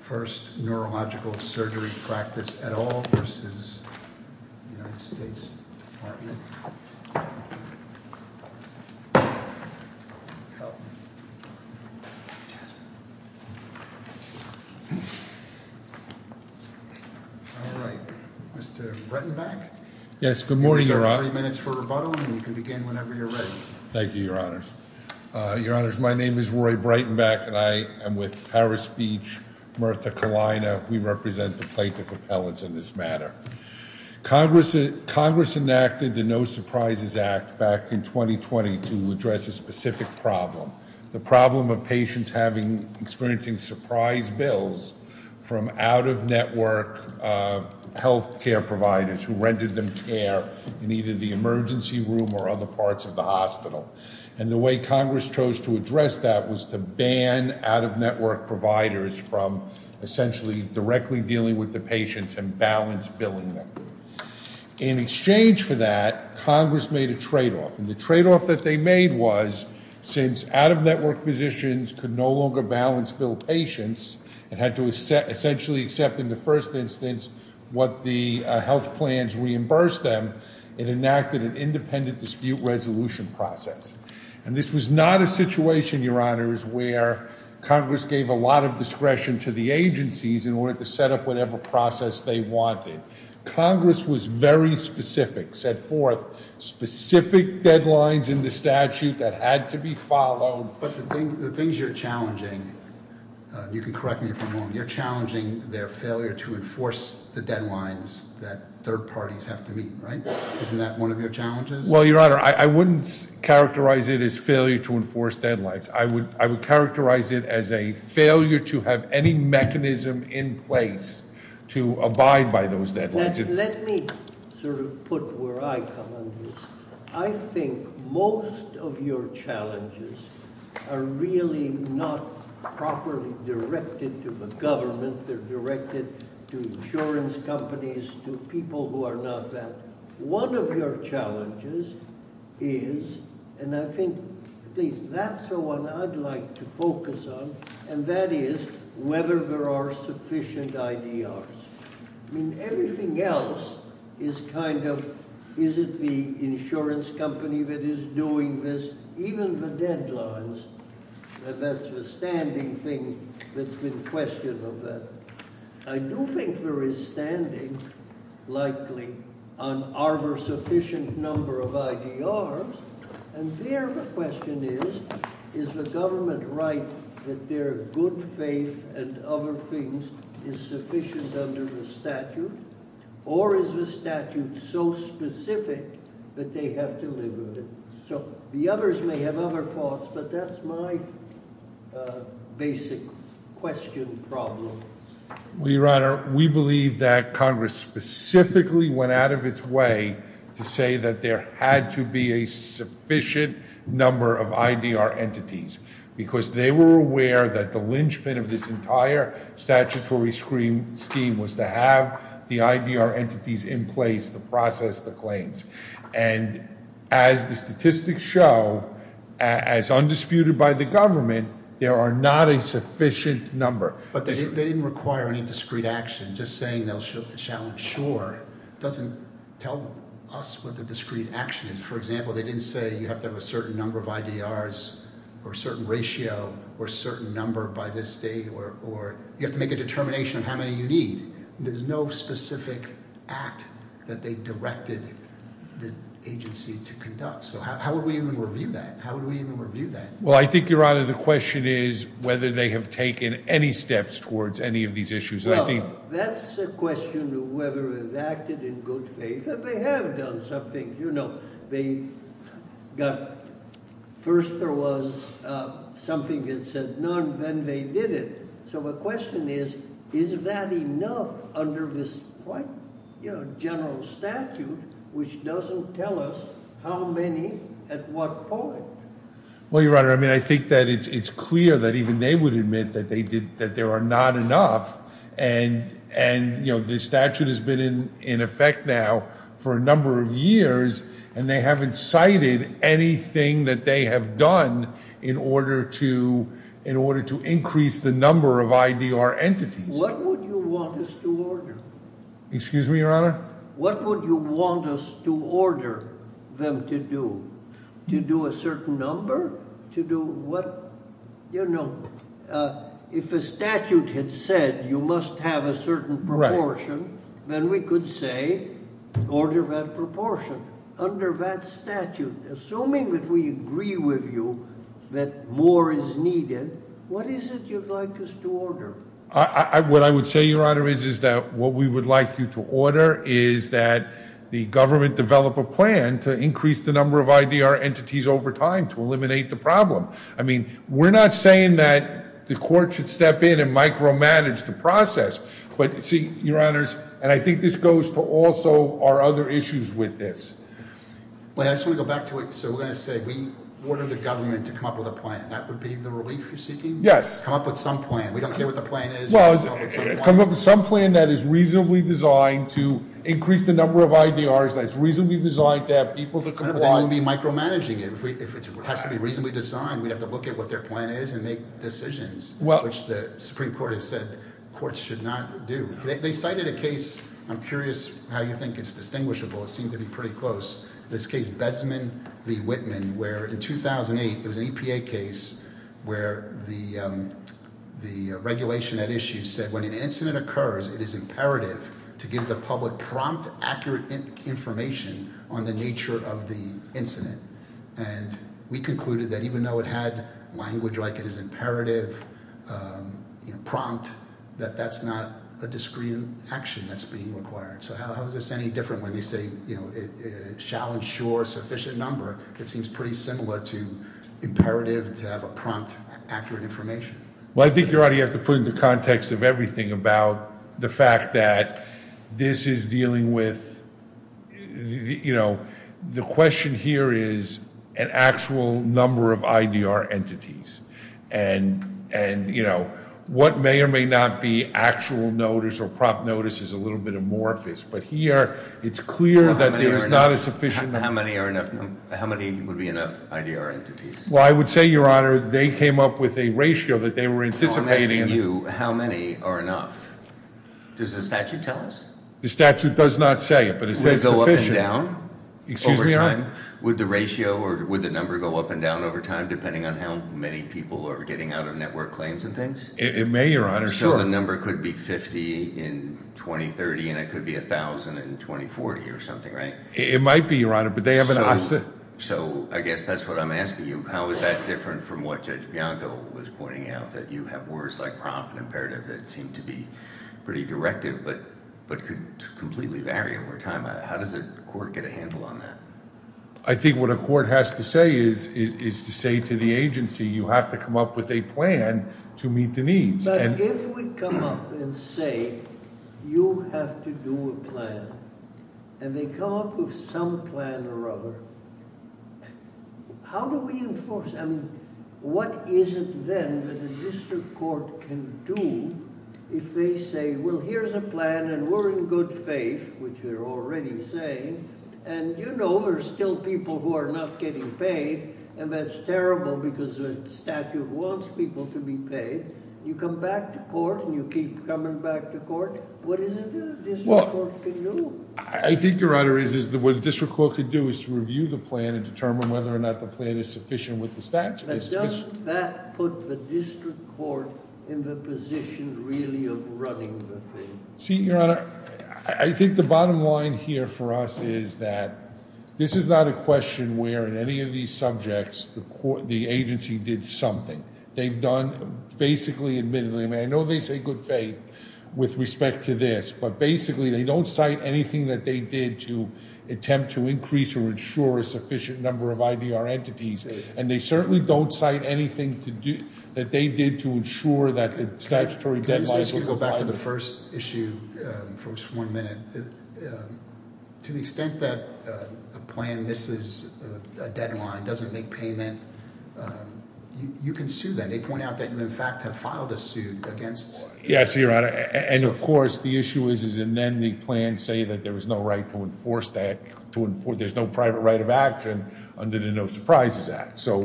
First Neurological Surgery Practice et al. v. United States Department of Health. All right, Mr. Breitenbach. Yes, good morning, Your Honor. You have 30 minutes for rebuttal, and you can begin whenever you're ready. Thank you, Your Honors. Your Honors, my name is Roy Breitenbach, and I am with Paris Beach, Mirtha Kalina. We represent the Plaintiff Appellants in this matter. Congress enacted the No Surprises Act back in 2020 to address a specific problem, the problem of patients experiencing surprise bills from out-of-network health care providers who rented them care in either the emergency room or other parts of the hospital. And the way Congress chose to address that was to ban out-of-network providers from essentially directly dealing with the patients and balance billing them. In exchange for that, Congress made a tradeoff. And the tradeoff that they made was since out-of-network physicians could no longer balance bill patients and had to essentially accept in the first instance what the health plans reimbursed them, it enacted an independent dispute resolution process. And this was not a situation, Your Honors, where Congress gave a lot of discretion to the agencies in order to set up whatever process they wanted. Congress was very specific, set forth specific deadlines in the statute that had to be followed. But the things you're challenging, you can correct me if I'm wrong, you're challenging their failure to enforce the deadlines that third parties have to meet, right? Isn't that one of your challenges? Well, Your Honor, I wouldn't characterize it as failure to enforce deadlines. I would characterize it as a failure to have any mechanism in place to abide by those deadlines. Let me sort of put where I come under this. I think most of your challenges are really not properly directed to the government. They're directed to insurance companies, to people who are not that. One of your challenges is, and I think at least that's the one I'd like to focus on, and that is whether there are sufficient IDRs. I mean, everything else is kind of, is it the insurance company that is doing this? Even the deadlines, that's the standing thing that's been questioned of that. I do think there is standing, likely, on are there sufficient number of IDRs, and there the question is, is the government right that their good faith and other things is sufficient under the statute? Or is the statute so specific that they have to live with it? So the others may have other thoughts, but that's my basic question problem. Well, Your Honor, we believe that Congress specifically went out of its way to say that there had to be a sufficient number of IDR entities because they were aware that the linchpin of this entire statutory scheme was to have the IDR entities in place to process the claims. And as the statistics show, as undisputed by the government, there are not a sufficient number. But they didn't require any discrete action. Just saying they shall insure doesn't tell us what the discrete action is. For example, they didn't say you have to have a certain number of IDRs or a certain ratio or a certain number by this date, or you have to make a determination of how many you need. There's no specific act that they directed the agency to conduct. So how would we even review that? How would we even review that? Well, I think, Your Honor, the question is whether they have taken any steps towards any of these issues. Well, that's a question of whether they've acted in good faith. And they have done some things, you know. They got, first there was something that said none, then they did it. So the question is, is that enough under this quite, you know, general statute, which doesn't tell us how many at what point. Well, Your Honor, I mean, I think that it's clear that even they would admit that there are not enough. And, you know, the statute has been in effect now for a number of years, and they haven't cited anything that they have done in order to increase the number of IDR entities. What would you want us to order? Excuse me, Your Honor? What would you want us to order them to do? To do a certain number? To do what? You know, if a statute had said you must have a certain proportion, then we could say order that proportion. Under that statute, assuming that we agree with you that more is needed, what is it you'd like us to order? What I would say, Your Honor, is that what we would like you to order is that the government develop a plan to increase the number of IDR entities over time to eliminate the problem. I mean, we're not saying that the court should step in and micromanage the process. But, see, Your Honors, and I think this goes to also our other issues with this. I just want to go back to what you said. We're going to say we order the government to come up with a plan. That would be the relief you're seeking? Yes. Come up with some plan. We don't know what the plan is. Well, come up with some plan that is reasonably designed to increase the number of IDRs, that's reasonably designed to have people to comply. But then we'd be micromanaging it. If it has to be reasonably designed, we'd have to look at what their plan is and make decisions, which the Supreme Court has said courts should not do. They cited a case. I'm curious how you think it's distinguishable. It seemed to be pretty close. This case, Besman v. Whitman, where in 2008 there was an EPA case where the regulation at issue said, when an incident occurs, it is imperative to give the public prompt, accurate information on the nature of the incident. And we concluded that even though it had language like it is imperative, prompt, that that's not a discreet action that's being required. So how is this any different when they say it shall ensure sufficient number? It seems pretty similar to imperative to have a prompt, accurate information. Well, I think you already have to put into context of everything about the fact that this is dealing with, you know, the question here is an actual number of IDR entities. And, you know, what may or may not be actual notice or prompt notice is a little bit amorphous. But here it's clear that there's not a sufficient number. How many are enough? How many would be enough IDR entities? Well, I would say, Your Honor, they came up with a ratio that they were anticipating. I'm asking you, how many are enough? Does the statute tell us? The statute does not say it, but it says sufficient. Would it go up and down over time? Excuse me, Your Honor? Would the ratio or would the number go up and down over time, depending on how many people are getting out of network claims and things? It may, Your Honor, sure. So the number could be 50 in 2030 and it could be 1,000 in 2040 or something, right? It might be, Your Honor, but they haven't asked it. So I guess that's what I'm asking you. How is that different from what Judge Bianco was pointing out, that you have words like prompt and imperative that seem to be pretty directed but could completely vary over time? How does a court get a handle on that? I think what a court has to say is to say to the agency, you have to come up with a plan to meet the needs. But if we come up and say you have to do a plan and they come up with some plan or other, how do we enforce it? What is it then that a district court can do if they say, well, here's a plan and we're in good faith, which they're already saying, and you know there's still people who are not getting paid and that's terrible because the statute wants people to be paid. You come back to court and you keep coming back to court. What is it that a district court can do? I think, Your Honor, what a district court can do is to review the plan and determine whether or not the plan is sufficient with the statute. But doesn't that put the district court in the position really of running the thing? See, Your Honor, I think the bottom line here for us is that this is not a question where in any of these subjects the agency did something. They've done basically admittedly, I mean I know they say good faith with respect to this, but basically they don't cite anything that they did to attempt to increase or insure a sufficient number of IDR entities, and they certainly don't cite anything that they did to insure that the statutory deadline would apply. Let me go back to the first issue for just one minute. To the extent that a plan misses a deadline, doesn't make payment, you can sue them. They point out that you in fact have filed a suit against them. Yes, Your Honor, and of course the issue is and then the plans say that there was no right to enforce that. There's no private right of action under the No Surprises Act. So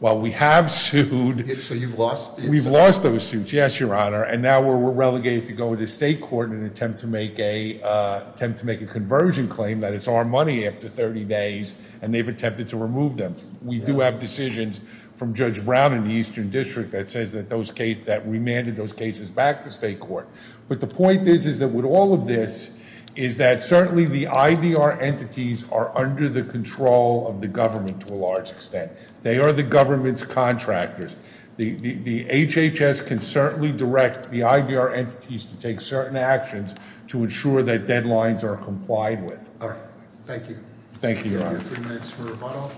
while we have sued- So you've lost- We've lost those suits, yes, Your Honor, and now we're relegated to go to state court and attempt to make a conversion claim that it's our money after 30 days and they've attempted to remove them. We do have decisions from Judge Brown in the Eastern District that remanded those cases back to state court. But the point is that with all of this is that certainly the IDR entities are under the control of the government to a large extent. They are the government's contractors. The HHS can certainly direct the IDR entities to take certain actions to insure that deadlines are complied with. All right. Thank you. Thank you, Your Honor. Three minutes for rebuttal.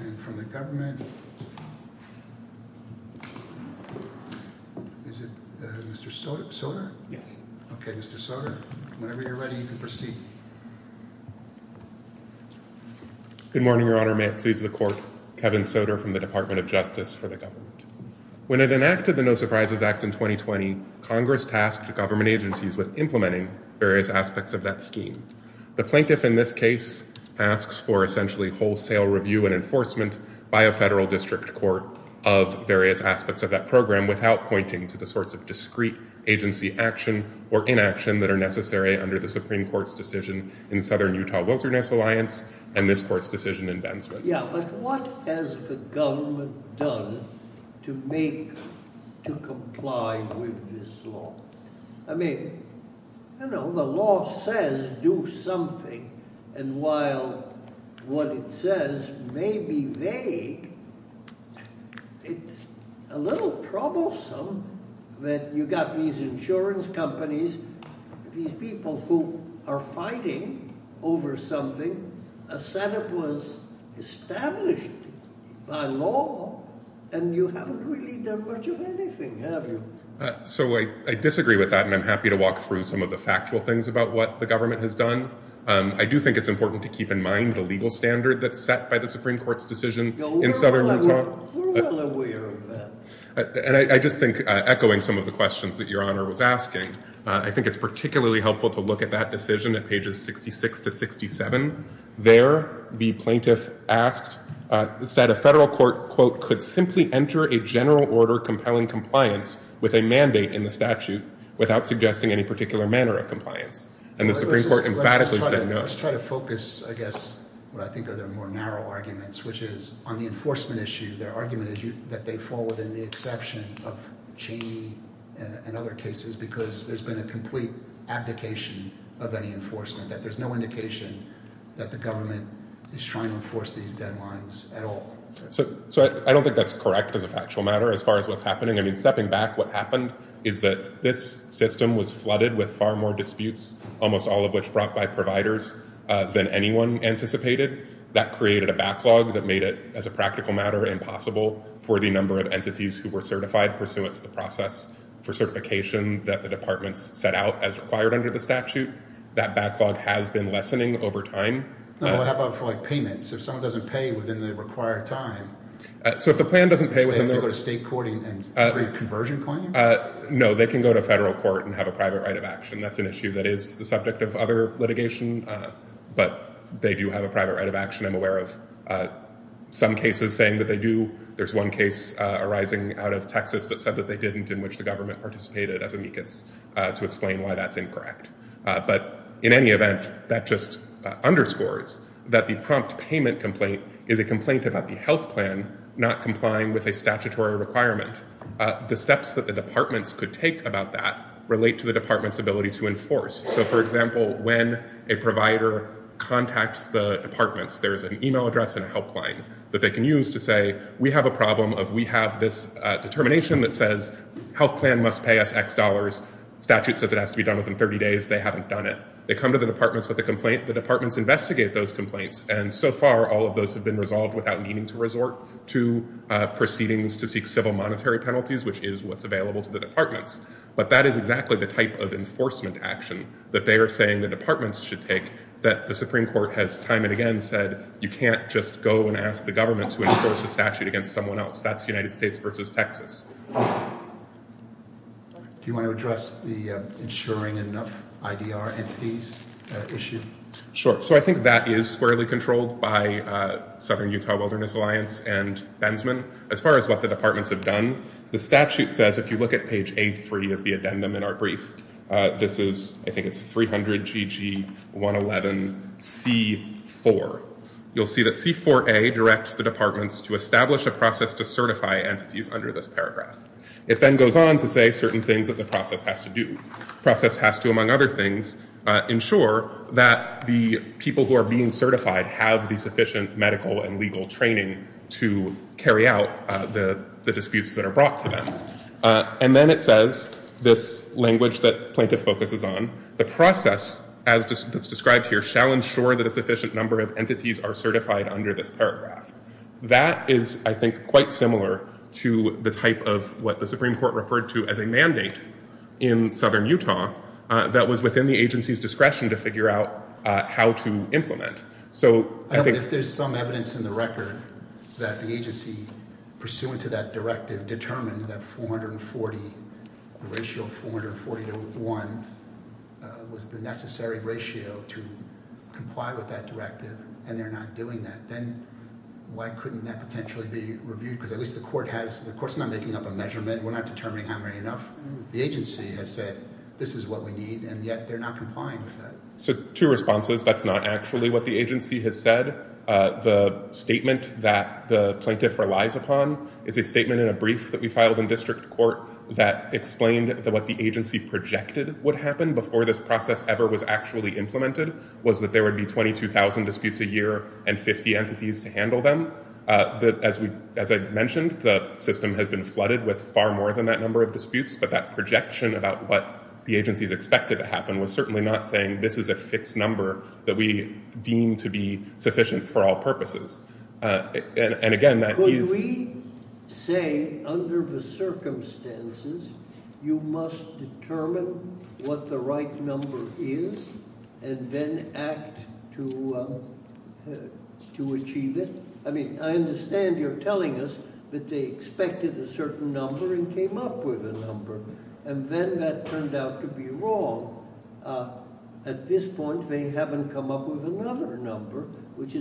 And from the government. Is it Mr. Soter? Yes. Okay, Mr. Soter, whenever you're ready, you can proceed. Good morning, Your Honor. May it please the court. Kevin Soter from the Department of Justice for the government. When it enacted the No Surprises Act in 2020, Congress tasked the government agencies with implementing various aspects of that scheme. The plaintiff in this case asks for essentially wholesale review and enforcement by a federal district court of various aspects of that program without pointing to the sorts of discreet agency action or inaction that are necessary under the Supreme Court's decision in Southern Utah Wilderness Alliance and this court's decision in Ben's case. Yeah, but what has the government done to make to comply with this law? I mean, you know, the law says do something, and while what it says may be vague, it's a little troublesome that you got these insurance companies, these people who are fighting over something. A setup was established by law, and you haven't really done much of anything, have you? So I disagree with that, and I'm happy to walk through some of the factual things about what the government has done. I do think it's important to keep in mind the legal standard that's set by the Supreme Court's decision in Southern Utah. We're well aware of that. And I just think echoing some of the questions that Your Honor was asking, I think it's particularly helpful to look at that decision at pages 66 to 67. There, the plaintiff asked, said a federal court, quote, could simply enter a general order compelling compliance with a mandate in the statute without suggesting any particular manner of compliance. And the Supreme Court emphatically said no. I guess what I think are the more narrow arguments, which is on the enforcement issue, their argument is that they fall within the exception of Cheney and other cases because there's been a complete abdication of any enforcement, that there's no indication that the government is trying to enforce these deadlines at all. So I don't think that's correct as a factual matter. As far as what's happening, I mean, stepping back, what happened is that this system was flooded with far more disputes, almost all of which brought by providers, than anyone anticipated. That created a backlog that made it, as a practical matter, impossible for the number of entities who were certified pursuant to the process for certification that the departments set out as required under the statute. That backlog has been lessening over time. No, but how about for like payments? If someone doesn't pay within the required time. So if the plan doesn't pay within the... Do they have to go to state court and agree a conversion claim? No, they can go to federal court and have a private right of action. That's an issue that is the subject of other litigation, but they do have a private right of action. I'm aware of some cases saying that they do. There's one case arising out of Texas that said that they didn't, in which the government participated as amicus to explain why that's incorrect. But in any event, that just underscores that the prompt payment complaint is a complaint about the health plan not complying with a statutory requirement. The steps that the departments could take about that relate to the department's ability to enforce. So, for example, when a provider contacts the departments, there is an email address and a helpline that they can use to say, we have a problem of we have this determination that says health plan must pay us X dollars. Statute says it has to be done within 30 days. They haven't done it. They come to the departments with a complaint. The departments investigate those complaints. And so far, all of those have been resolved without needing to resort to proceedings to seek civil monetary penalties, which is what's available to the departments. But that is exactly the type of enforcement action that they are saying the departments should take, that the Supreme Court has time and again said, you can't just go and ask the government to enforce a statute against someone else. That's the United States versus Texas. Do you want to address the ensuring enough IDR entities issue? Sure. So I think that is squarely controlled by Southern Utah Wilderness Alliance and Benzmann. As far as what the departments have done, the statute says, if you look at page three of the addendum in our brief, this is I think it's 300 GG 111 C4. You'll see that C4A directs the departments to establish a process to certify entities under this paragraph. It then goes on to say certain things that the process has to do. Process has to, among other things, ensure that the people who are being certified have the sufficient medical and legal training to carry out the disputes that are brought to them. And then it says this language that plaintiff focuses on the process, as described here, shall ensure that a sufficient number of entities are certified under this paragraph. That is, I think, quite similar to the type of what the Supreme Court referred to as a mandate in Southern Utah that was within the agency's discretion to figure out how to implement. If there's some evidence in the record that the agency, pursuant to that directive, determined that the ratio of 440 to 1 was the necessary ratio to comply with that directive, and they're not doing that, then why couldn't that potentially be reviewed? Because at least the court's not making up a measurement. We're not determining how many enough. The agency has said, this is what we need, and yet they're not complying with that. So two responses. That's not actually what the agency has said. The statement that the plaintiff relies upon is a statement in a brief that we filed in district court that explained what the agency projected would happen before this process ever was actually implemented, was that there would be 22,000 disputes a year and 50 entities to handle them. As I mentioned, the system has been flooded with far more than that number of disputes, but that projection about what the agency is expected to happen was certainly not saying this is a fixed number that we deem to be sufficient for all purposes. And again, that is- I understand you're telling us that they expected a certain number and came up with a number, and then that turned out to be wrong. At this point, they haven't come up with another number, which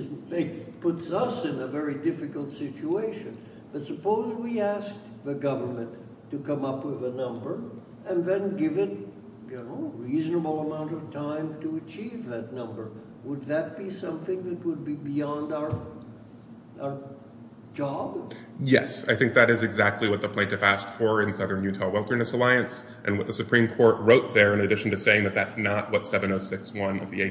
puts us in a very difficult situation. But suppose we asked the government to come up with a number and then give it a reasonable amount of time to achieve that number. Would that be something that would be beyond our job? Yes, I think that is exactly what the plaintiff asked for in Southern Utah Wilderness Alliance and what the Supreme Court wrote there, in addition to saying that that's not what 706.1 of the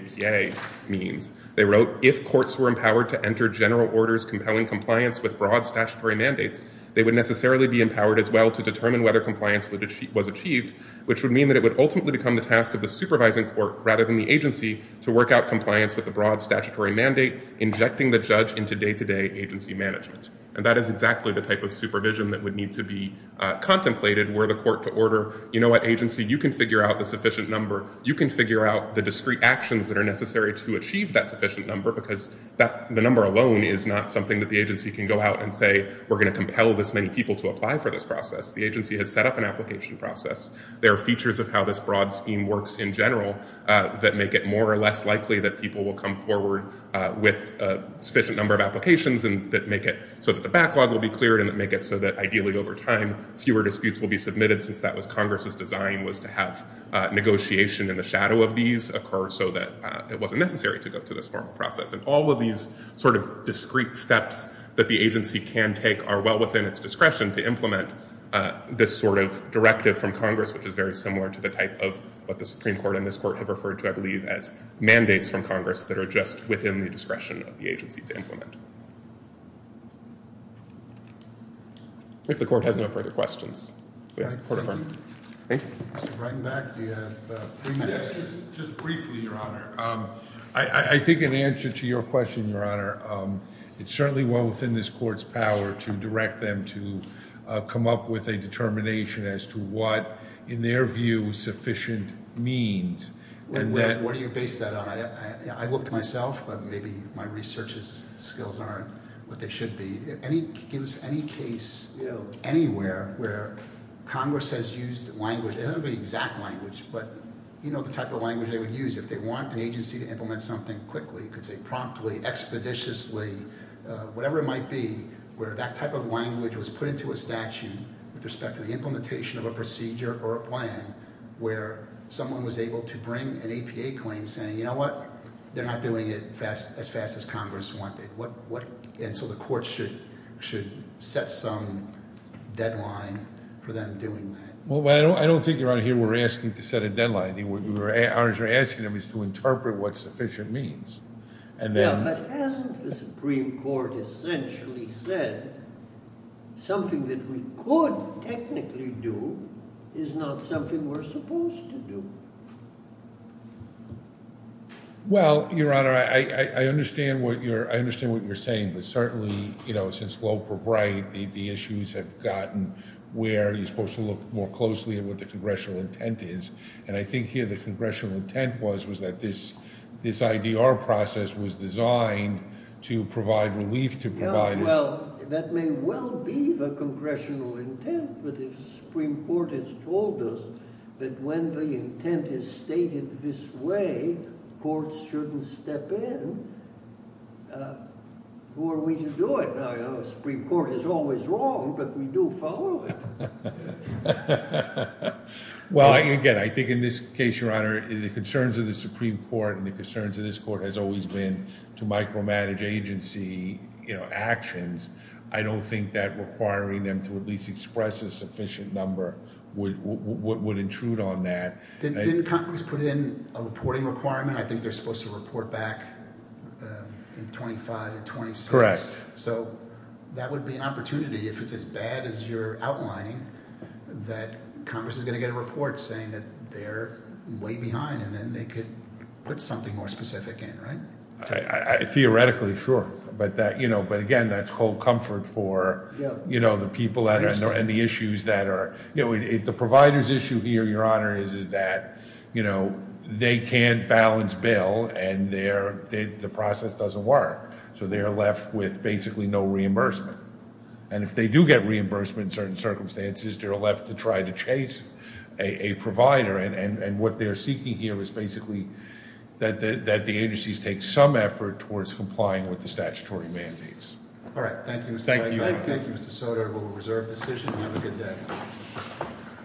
APA means. They wrote, if courts were empowered to enter general orders compelling compliance with broad statutory mandates, they would necessarily be empowered as well to determine whether compliance was achieved, which would mean that it would ultimately become the task of the supervising court rather than the agency to work out compliance with the broad statutory mandate, injecting the judge into day-to-day agency management. And that is exactly the type of supervision that would need to be contemplated were the court to order, you know what, agency, you can figure out the sufficient number. You can figure out the discrete actions that are necessary to achieve that sufficient number because the number alone is not something that the agency can go out and say, we're going to compel this many people to apply for this process. The agency has set up an application process. There are features of how this broad scheme works in general that make it more or less likely that people will come forward with a sufficient number of applications and that make it so that the backlog will be cleared and that make it so that ideally over time, fewer disputes will be submitted since that was Congress's design was to have negotiation in the shadow of these occur so that it wasn't necessary to go through this formal process. And all of these sort of discrete steps that the agency can take are well within its discretion to implement this sort of directive from Congress, which is very similar to the type of what the Supreme Court and this court have referred to, I believe, as mandates from Congress that are just within the discretion of the agency to implement. If the court has no further questions, we ask the court to affirm. I think an answer to your question, Your Honor, it's certainly well within this court's power to direct them to come up with a determination as to what, in their view, sufficient means. What do you base that on? I looked myself, but maybe my research skills aren't what they should be. Any case anywhere where Congress has used language, and not the exact language, but the type of language they would use if they want an agency to implement something quickly, promptly, expeditiously, whatever it might be, where that type of language was put into a statute with respect to the implementation of a procedure or a plan where someone was able to bring an APA claim saying, you know what, they're not doing it as fast as Congress wanted. And so the court should set some deadline for them doing that. Well, I don't think, Your Honor, here we're asking to set a deadline. What we're asking them is to interpret what sufficient means. Yeah, but hasn't the Supreme Court essentially said something that we could technically do is not something we're supposed to do? Well, Your Honor, I understand what you're saying, but certainly, you know, since Lope or Bright, the issues have gotten where you're supposed to look more closely at what the congressional intent is. And I think here the congressional intent was that this IDR process was designed to provide relief to providers. Well, that may well be the congressional intent, but the Supreme Court has told us that when the intent is stated this way, courts shouldn't step in. Who are we to do it? Now, you know, the Supreme Court is always wrong, but we do follow it. Well, again, I think in this case, Your Honor, the concerns of the Supreme Court and the concerns of this court has always been to micromanage agency actions. I don't think that requiring them to at least express a sufficient number would intrude on that. Didn't Congress put in a reporting requirement? I think they're supposed to report back in 25 to 26. So that would be an opportunity, if it's as bad as you're outlining, that Congress is going to get a report saying that they're way behind and then they could put something more specific in, right? Theoretically, sure. But that, you know, but again, that's cold comfort for, you know, the people and the issues that are, you know, the providers issue here, Your Honor, is that, you know, they can't balance bill and the process doesn't work. So they're left with basically no reimbursement. And if they do get reimbursement in certain circumstances, they're left to try to chase a provider. And what they're seeking here is basically that the agencies take some effort towards complying with the statutory mandates. All right. Thank you, Mr. White. Thank you, Mr. Sotomayor. Thank you, Mr. Sotomayor. We'll reserve the decision and have a good day.